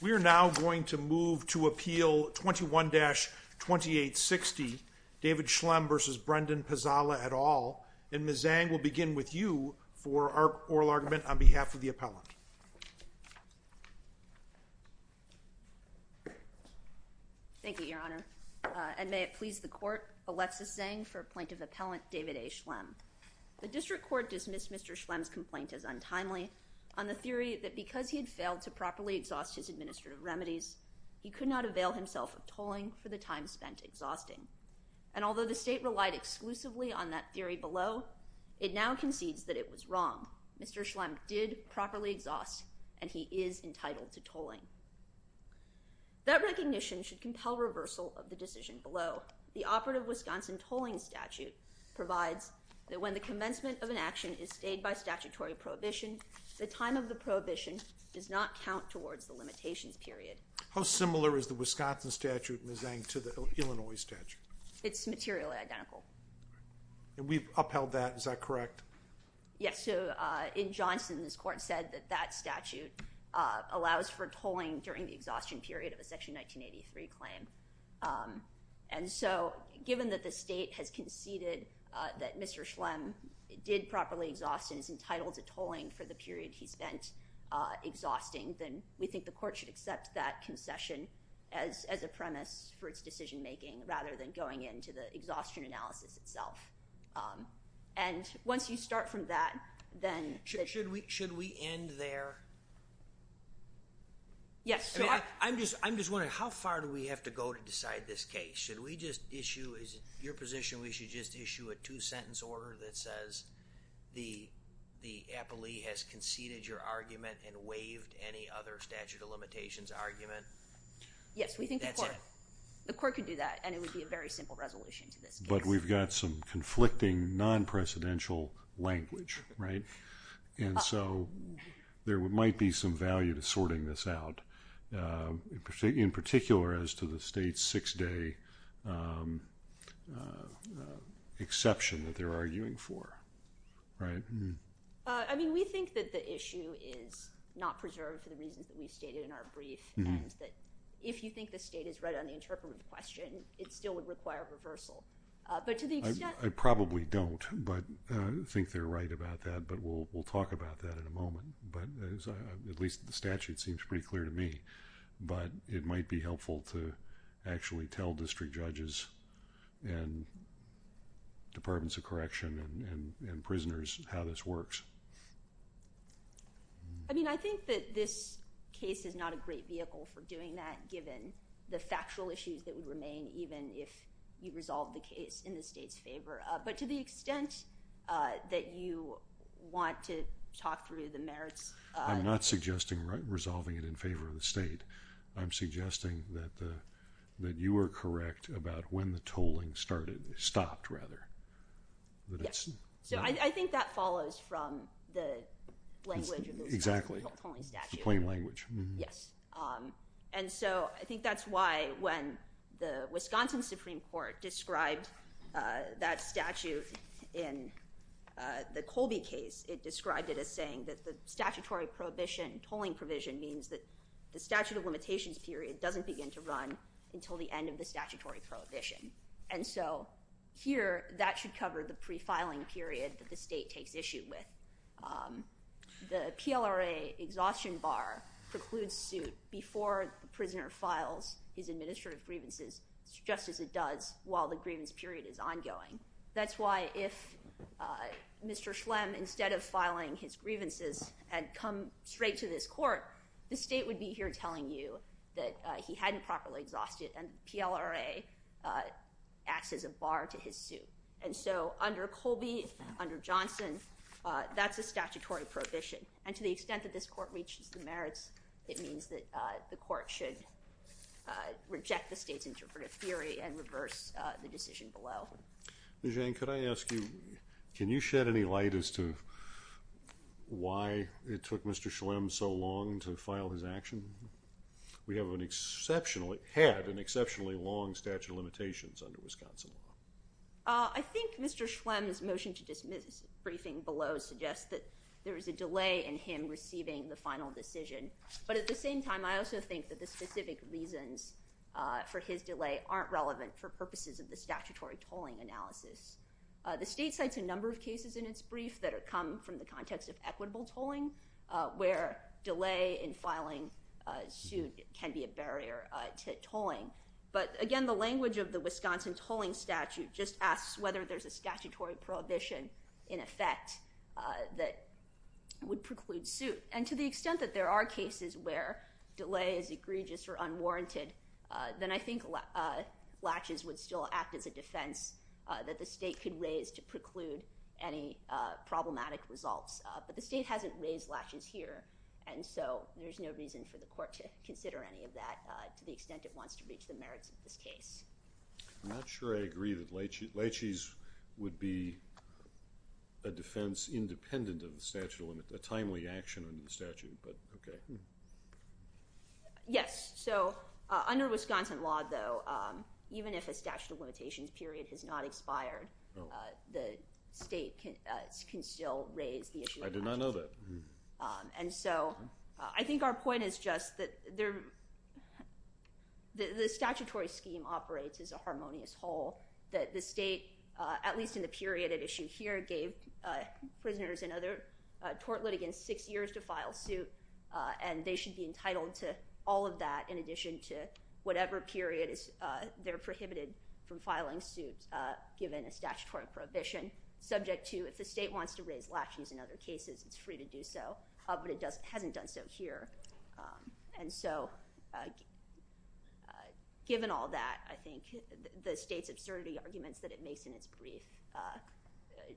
We are now going to move to appeal 21-2860 David Schlemm v. Brendan Pizzala et al. And Ms. Zhang will begin with you for our oral argument on behalf of the appellant. Thank you, your honor. And may it please the court, Alexis Zhang for plaintiff appellant David A. Schlemm. The district court dismissed Mr. Schlemm's complaint as untimely on the theory that because he had failed to properly exhaust his administrative remedies, he could not avail himself of tolling for the time spent exhausting. And although the state relied exclusively on that theory below, it now concedes that it was wrong. Mr. Schlemm did properly exhaust and he is entitled to tolling. That recognition should compel reversal of the decision below. The operative Wisconsin tolling statute provides that when the commencement of an action is stayed by statutory prohibition, the time of the prohibition does not count towards the limitations period. How similar is the Wisconsin statute, Ms. Zhang, to the Illinois statute? It's materially identical. And we've upheld that. Is that correct? Yes. So, in Johnson, this court said that that statute allows for tolling during the exhaustion period of a section 1983 claim. And so, given that the state has conceded that Mr. Schlemm did properly exhaust and is entitled to tolling for the period he spent exhausting, then we think the court should accept that concession as a premise for its decision making rather than going into the exhaustion analysis itself. And once you start from that, then... Should we end there? Yes. So, I'm just wondering, how far do we have to go to decide this case? Should we just issue, is it your position we should just issue a two-sentence order that says the appellee has conceded your argument and waived any other statute of limitations argument? Yes. We think the court could do that and it would be a very simple resolution to this case. But we've got some conflicting non-presidential language, right? And so, there might be some this out, in particular as to the state's six-day exception that they're arguing for, right? I mean, we think that the issue is not preserved for the reasons that we've stated in our brief and that if you think the state is right on the interpretive question, it still would require a reversal. But to the extent... I probably don't, but I think they're right about that, but we'll talk about that in a moment. But at least the statute seems pretty clear to me. But it might be helpful to actually tell district judges and departments of correction and prisoners how this works. I mean, I think that this case is not a great vehicle for doing that given the factual issues that would remain even if you resolve the case in the state's favor. But to the extent that you want to talk through the merits... I'm not suggesting resolving it in favor of the state. I'm suggesting that you are correct about when the tolling started, stopped, rather. Yes. So, I think that follows from the language of the tolling statute. Exactly. The plain language. Yes. And so, I think that's why when the Wisconsin Supreme Court described that statute in the Colby case, it described it as saying that the statutory prohibition, tolling provision, means that the statute of limitations period doesn't begin to run until the end of the statutory prohibition. And so, here, that should cover the pre-filing period that the state takes issue with. The PLRA exhaustion bar precludes suit before the prisoner files his administrative grievances, just as it does while the grievance period is ongoing. That's why if Mr. Schlemm, instead of filing his grievances, had come straight to this court, the state would be here telling you that he hadn't properly exhausted and PLRA acts as a bar to his suit. And so, under Colby, under Johnson, that's a statutory prohibition. And to the extent that this court reaches the merits, it means that the court should reject the state's interpretive theory and reverse the decision below. Jane, could I ask you, can you shed any light as to why it took Mr. Schlemm so long to file his action? We have an exceptionally, had an exceptionally long statute of limitations under Wisconsin law. I think Mr. Schlemm's motion to dismiss the briefing below suggests that there is a delay in him receiving the final decision. But at the same time, I also think that the specific reasons for his delay aren't relevant for purposes of the statutory tolling analysis. The state cites a number of cases in its brief that come from the context of equitable tolling, where delay in filing suit can be a barrier to tolling. But again, the language of the Wisconsin tolling statute just asks whether there's a statutory prohibition in effect that would preclude suit. And to the extent that there are cases where delay is egregious or unwarranted, then I think latches would still act as a defense that the state could raise to preclude any problematic results. But the state hasn't raised latches here, and so there's no reason for the court to consider any of that to the extent it wants to reach the merits of this case. I'm not sure I agree that laches would be a defense independent of the statute of limit, a timely action in the statute, but okay. Yes, so under Wisconsin law though, even if a statute of limitations period has not expired, the state can still raise the issue. I did not know that. And so I think our point is just that the statutory scheme operates as a harmonious whole, that the state, at least in the period at issue here, gave prisoners and other tort litigants six years to file suit, and they should be entitled to all of that in addition to whatever period they're prohibited from filing suit given a statutory prohibition, subject to if the state wants to raise latches in other cases, it's free to do so, but it hasn't done so here. And so given all that, I think the state's absurdity arguments that it makes in its brief,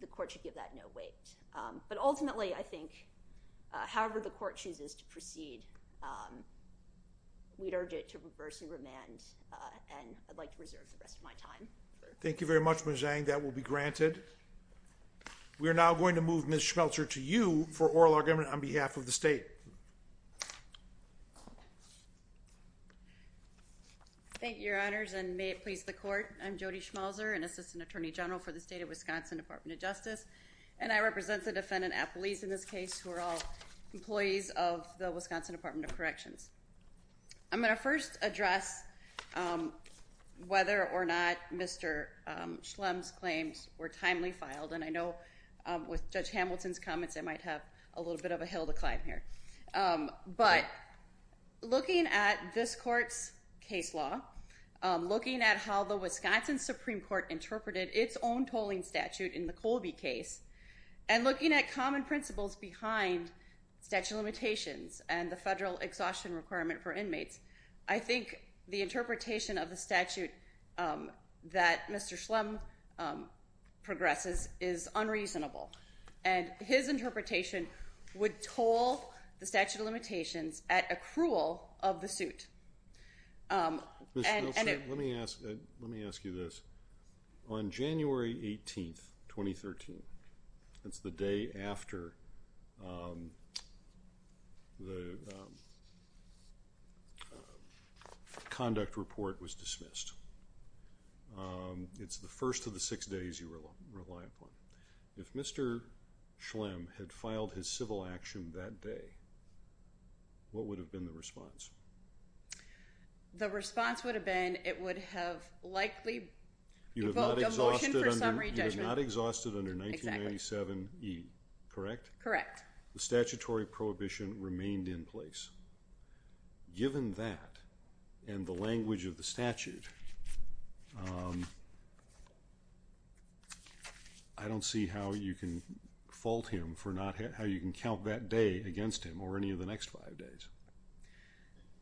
the court should give that no weight. But ultimately, I think, however the court chooses to proceed, we'd urge it to reverse and remand, and I'd like to reserve the rest of my time. Thank you very much, Ms. Zhang. That will be granted. We are now going to move Ms. Schmelzer to you for oral argument on behalf of the state. Thank you, Your Honors, and may it please the court. I'm Jody Schmelzer, an Assistant Attorney General for the State of Wisconsin Department of Justice, and I represent the defendant, Appleese, in this case, who are all employees of the Wisconsin Department of Corrections. I'm going to first address whether or not Mr. Schlem's claims were timely filed, and I know with Judge Hamilton's comments, I might have a little bit of a hill to climb here. But looking at this court's case law, looking at how the Wisconsin Supreme Court interpreted its own tolling statute in the Colby case, and looking at common principles behind statute of limitations and the federal exhaustion requirement for inmates, I think the interpretation of the statute that Mr. Schlem progresses is unreasonable, and his interpretation would toll the statute of limitations at accrual of the suit. Ms. Schmelzer, let me ask you this. On January 18, 2013, that's the day after the conduct report was dismissed. It's the first of the six days you rely upon. If Mr. Schlem had filed his civil action that day, what would have been the response? The response would have been it would have likely evoked a motion for summary judgment. You have not exhausted under 1997e, correct? Correct. The statutory prohibition remained in place. Given that, and the language of the statute, I don't see how you can fault him for not how you can count that day against him or any of the next five days.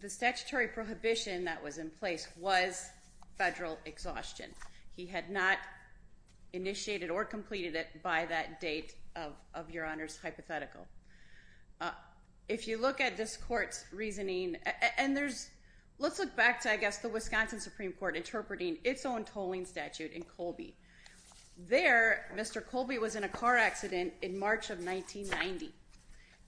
The statutory prohibition that was in place was federal exhaustion. He had not initiated or completed it by that date of your Honor's hypothetical. If you look at this court's interpreting its own tolling statute in Colby, there Mr. Colby was in a car accident in March of 1990.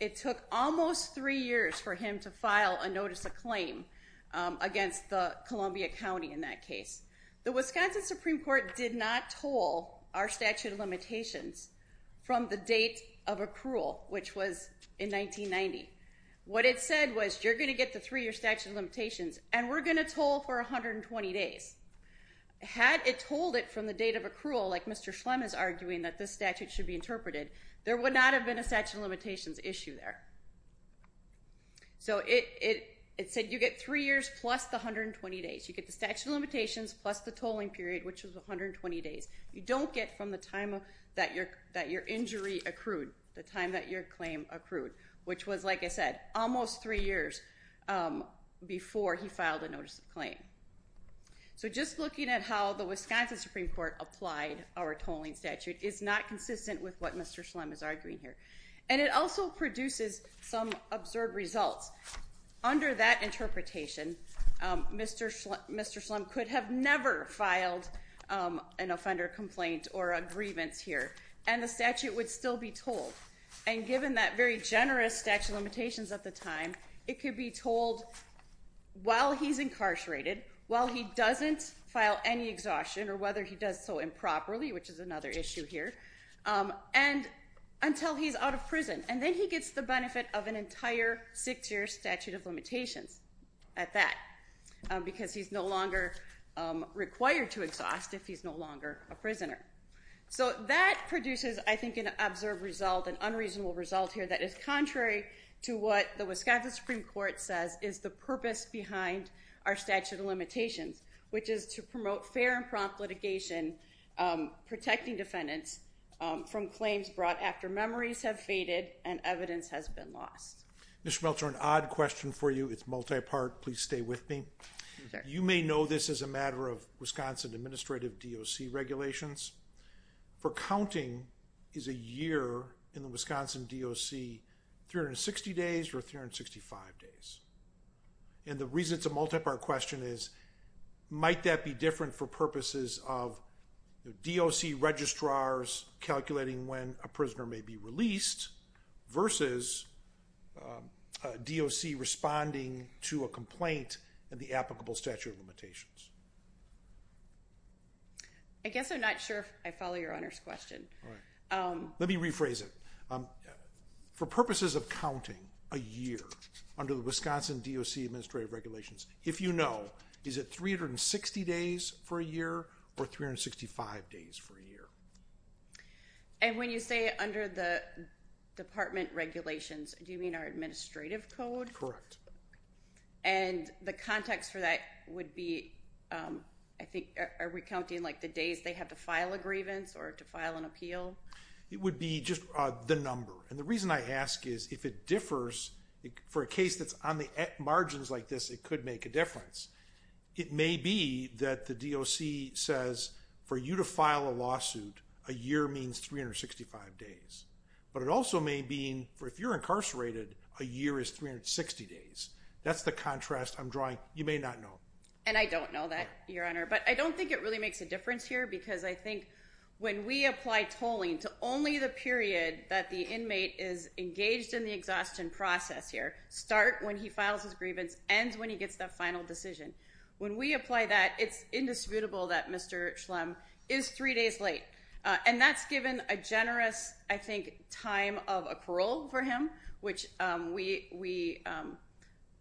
It took almost three years for him to file a notice of claim against the Columbia County in that case. The Wisconsin Supreme Court did not toll our statute of limitations from the date of accrual, which was in 1990. What it said was you're going to get the three-year statute of limitations plus the 120 days. Had it told it from the date of accrual, like Mr. Schlem is arguing that this statute should be interpreted, there would not have been a statute of limitations issue there. So it said you get three years plus the 120 days. You get the statute of limitations plus the tolling period, which was 120 days. You don't get from the time that your injury accrued, the time that your claim accrued, which was, like I said, almost three years before he filed a notice of claim. So just looking at how the Wisconsin Supreme Court applied our tolling statute is not consistent with what Mr. Schlem is arguing here. And it also produces some absurd results. Under that interpretation, Mr. Schlem could have never filed an offender complaint or a grievance here, and the statute would still be tolled. And given that very generous statute of limitations at the time, it could be told while he's incarcerated, while he doesn't file any exhaustion or whether he does so improperly, which is another issue here, and until he's out of prison. And then he gets the benefit of an entire six-year statute of limitations at that, because he's no longer required to exhaust if he's no an unreasonable result here that is contrary to what the Wisconsin Supreme Court says is the purpose behind our statute of limitations, which is to promote fair and prompt litigation, protecting defendants from claims brought after memories have faded and evidence has been lost. Mr. Meltzer, an odd question for you. It's multi-part. Please stay with me. You may know this as a matter of Wisconsin Administrative DOC regulations. For counting, is a year in the Wisconsin DOC 360 days or 365 days? And the reason it's a multi-part question is, might that be different for purposes of DOC registrars calculating when a prisoner may be released versus DOC responding to a complaint and the applicable statute of limitations? Let me rephrase it. For purposes of counting a year under the Wisconsin DOC Administrative Regulations, if you know, is it 360 days for a year or 365 days for a year? And when you say under the department regulations, do you mean our administrative code? Correct. And the context for that would be, I think, are we counting like the days they have to file a grievance or to file an appeal? It would be just the number. And the reason I ask is if it differs, for a case that's on the margins like this, it could make a difference. It may be that the DOC says for you to file a lawsuit, a year means 365 days. But it also may mean for if you're incarcerated, a year is 360 days. That's the contrast I'm drawing. You may not know. And I don't know that, Your Honor. But I don't think it really makes a difference here because I think when we apply tolling to only the period that the inmate is engaged in the exhaustion process here, start when he files his grievance, ends when he gets the final decision. When we apply that, it's indisputable that Mr. Schlem is three days late. And that's given a generous, I think, time of accrual for him, which we,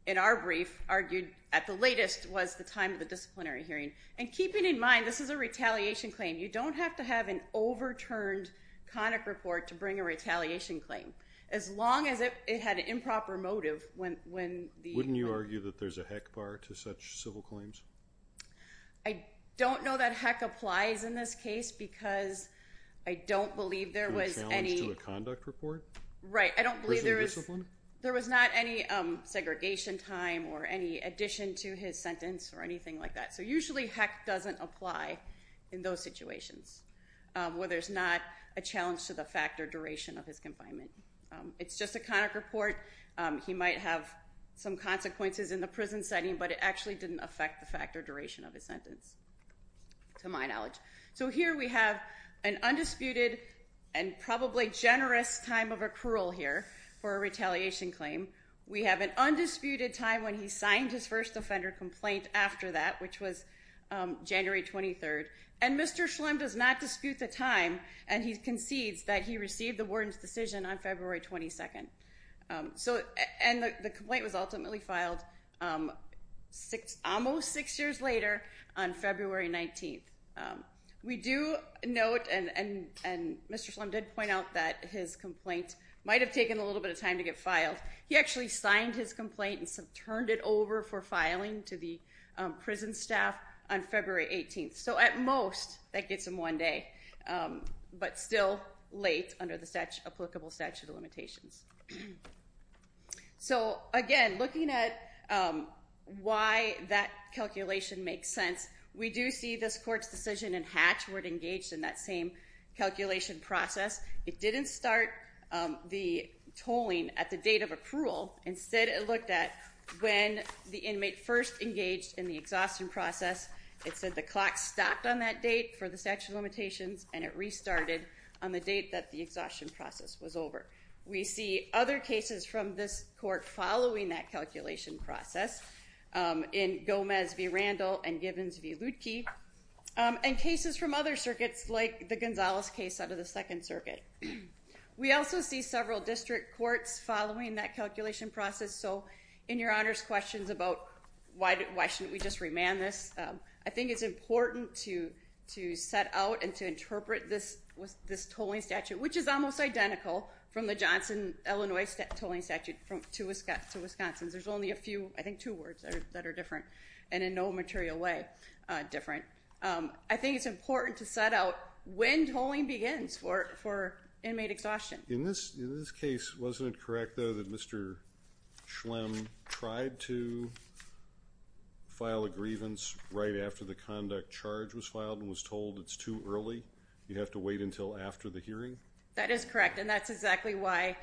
in our brief, argued at the latest was the time of the disciplinary hearing. And keeping in mind, this is a retaliation claim. You don't have to have an overturned conic report to bring a retaliation claim as long as it had an improper motive. Wouldn't you argue that there's a heck bar to such civil claims? I don't know that heck applies in this case because I don't believe there was any... A challenge to a conduct report? Right. I don't believe there was... Prison discipline? There was not any segregation time or any addition to his sentence or anything like that. So usually heck doesn't apply in those situations where there's not a challenge to the fact or duration of his confinement. It's just a conic report. He might have some consequences in the prison setting, but it actually didn't affect the fact or duration of his sentence, to my knowledge. So here we have an undisputed and probably generous time of accrual here for a retaliation claim. We have an undisputed time when he signed his first offender complaint after that, which was January 23rd. And Mr. Schlem does not dispute the time, and he concedes that he received the complaint was ultimately filed almost six years later on February 19th. We do note, and Mr. Schlem did point out that his complaint might have taken a little bit of time to get filed. He actually signed his complaint and turned it over for filing to the prison staff on February 18th. So at most, that gets him one day, but still late under the applicable statute of limitations. So again, looking at why that calculation makes sense, we do see this court's decision in Hatch where it engaged in that same calculation process. It didn't start the tolling at the date of accrual. Instead, it looked at when the inmate first engaged in the exhaustion process. It said the clock stopped on that date for the statute of limitations, and it restarted on the date that the exhaustion process was over. We see other cases from this court following that calculation process in Gomez v. Randall and Gibbons v. Lutke, and cases from other circuits like the Gonzalez case out of the Second Circuit. We also see several district courts following that calculation process. So in your Honor's questions about why shouldn't we just remand this, I think it's important to set out and to interpret this tolling statute, which is almost identical from the Johnson, Illinois tolling statute to Wisconsin's. There's only a few, I think two words that are different and in no material way different. I think it's important to set out when tolling begins for inmate exhaustion. In this case, wasn't it correct though that Mr. Schlem tried to file a grievance right after the conduct charge was filed and was told it's too early? You have to wait until after the hearing? That is correct, and that's exactly why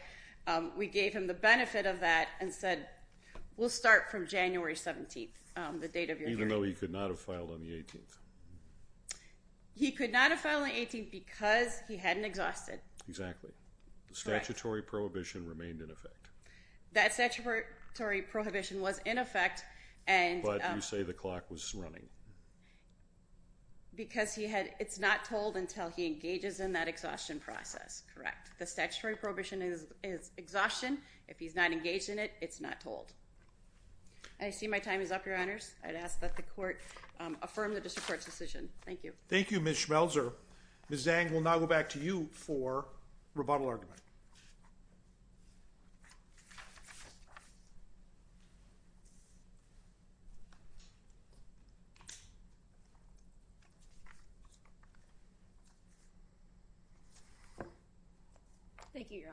we gave him the benefit of that and said we'll start from January 17th, the date of your hearing. Even though he could not have filed on the 18th? He could not have filed on the 18th because he hadn't exhausted. Exactly. The statutory prohibition remained in effect. That statutory prohibition was in effect. But you say the clock was running? Because it's not told until he engages in that exhaustion process. Correct. The statutory prohibition is exhaustion. If he's not engaged in it, it's not told. I see my time is up, Your Honors. I'd ask that the court affirm the district court's decision. Thank you. Thank you, Ms. Schmelzer. Ms. Zang, we'll now go back to you for rebuttal argument. Thank you, Your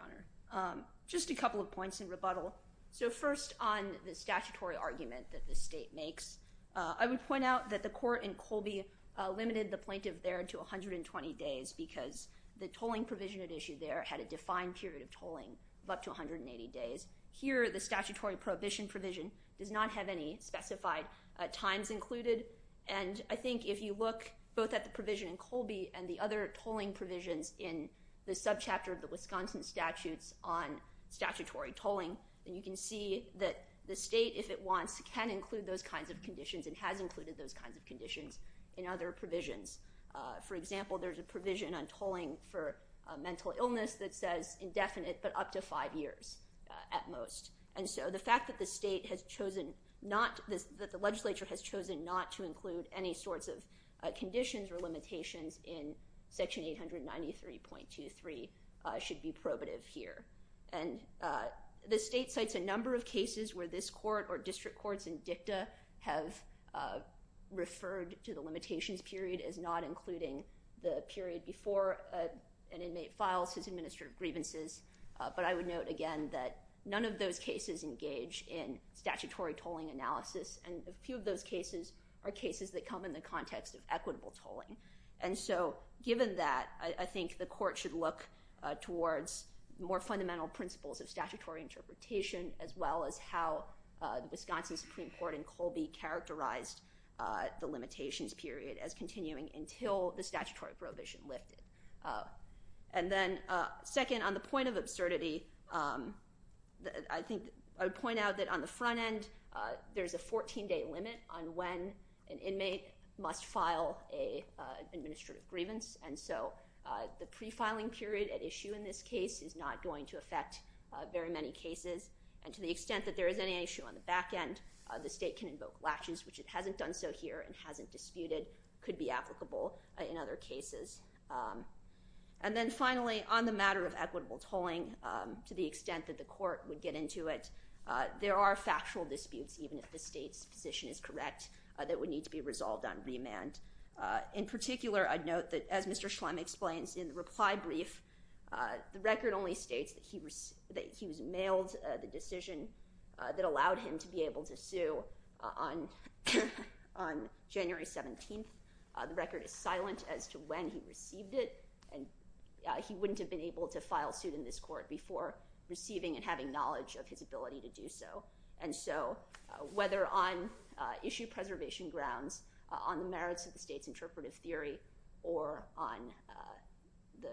Honor. Just a couple of points in rebuttal. So first on the statutory argument that the state makes, I would point out that the court in Colby limited the plaintiff there to 120 days because the tolling provision at issue there had a defined period of tolling of up to 180 days. Here, the statutory prohibition provision does not have any specified times included, and I think if you look both at the provision in Colby and the other tolling provisions in the subchapter of the those kinds of conditions and has included those kinds of conditions in other provisions. For example, there's a provision on tolling for a mental illness that says indefinite but up to five years at most. And so the fact that the state has chosen not, that the legislature has chosen not to include any sorts of conditions or limitations in section 893.23 should be probative here. And the state cites a number of cases where this court or district courts in dicta have referred to the limitations period as not including the period before an inmate files his administrative grievances. But I would note again that none of those cases engage in statutory tolling analysis, and a few of those cases are cases that come in the context of equitable tolling. And so given that, I think the court should look towards more fundamental principles of statutory interpretation as well as how the Wisconsin Supreme Court in Colby characterized the limitations period as continuing until the statutory prohibition lifted. And then second, on the point of absurdity, I think I would point out that on the front end, there's a 14-day limit on when an inmate must file an administrative grievance. And so the pre-filing period at issue in this case is not going to affect very many cases. And to the extent that there is any issue on the back end, the state can invoke laches, which it hasn't done so here and hasn't disputed, could be applicable in other cases. And then finally, on the matter of equitable tolling, to the extent that the court would get into it, there are factual disputes, even if the state's position is correct, that would need to be in particular. I'd note that, as Mr. Schlemm explains in the reply brief, the record only states that he was mailed the decision that allowed him to be able to sue on January 17th. The record is silent as to when he received it, and he wouldn't have been able to file suit in this court before receiving and having knowledge of his ability to do so. And so whether on issue preservation grounds, on the merits of the state's interpretive theory, or on the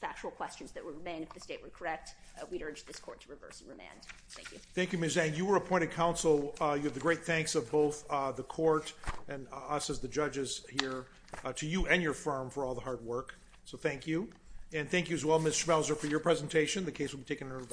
factual questions that remain, if the state were correct, we'd urge this court to reverse and remand. Thank you. Thank you, Ms. Zhang. You were appointed counsel. You have the great thanks of both the court and us as the judges here to you and your firm for all the hard work. So thank you. And thank you as well, Ms. Schmelzer, for your presentation. The case will be taken in court.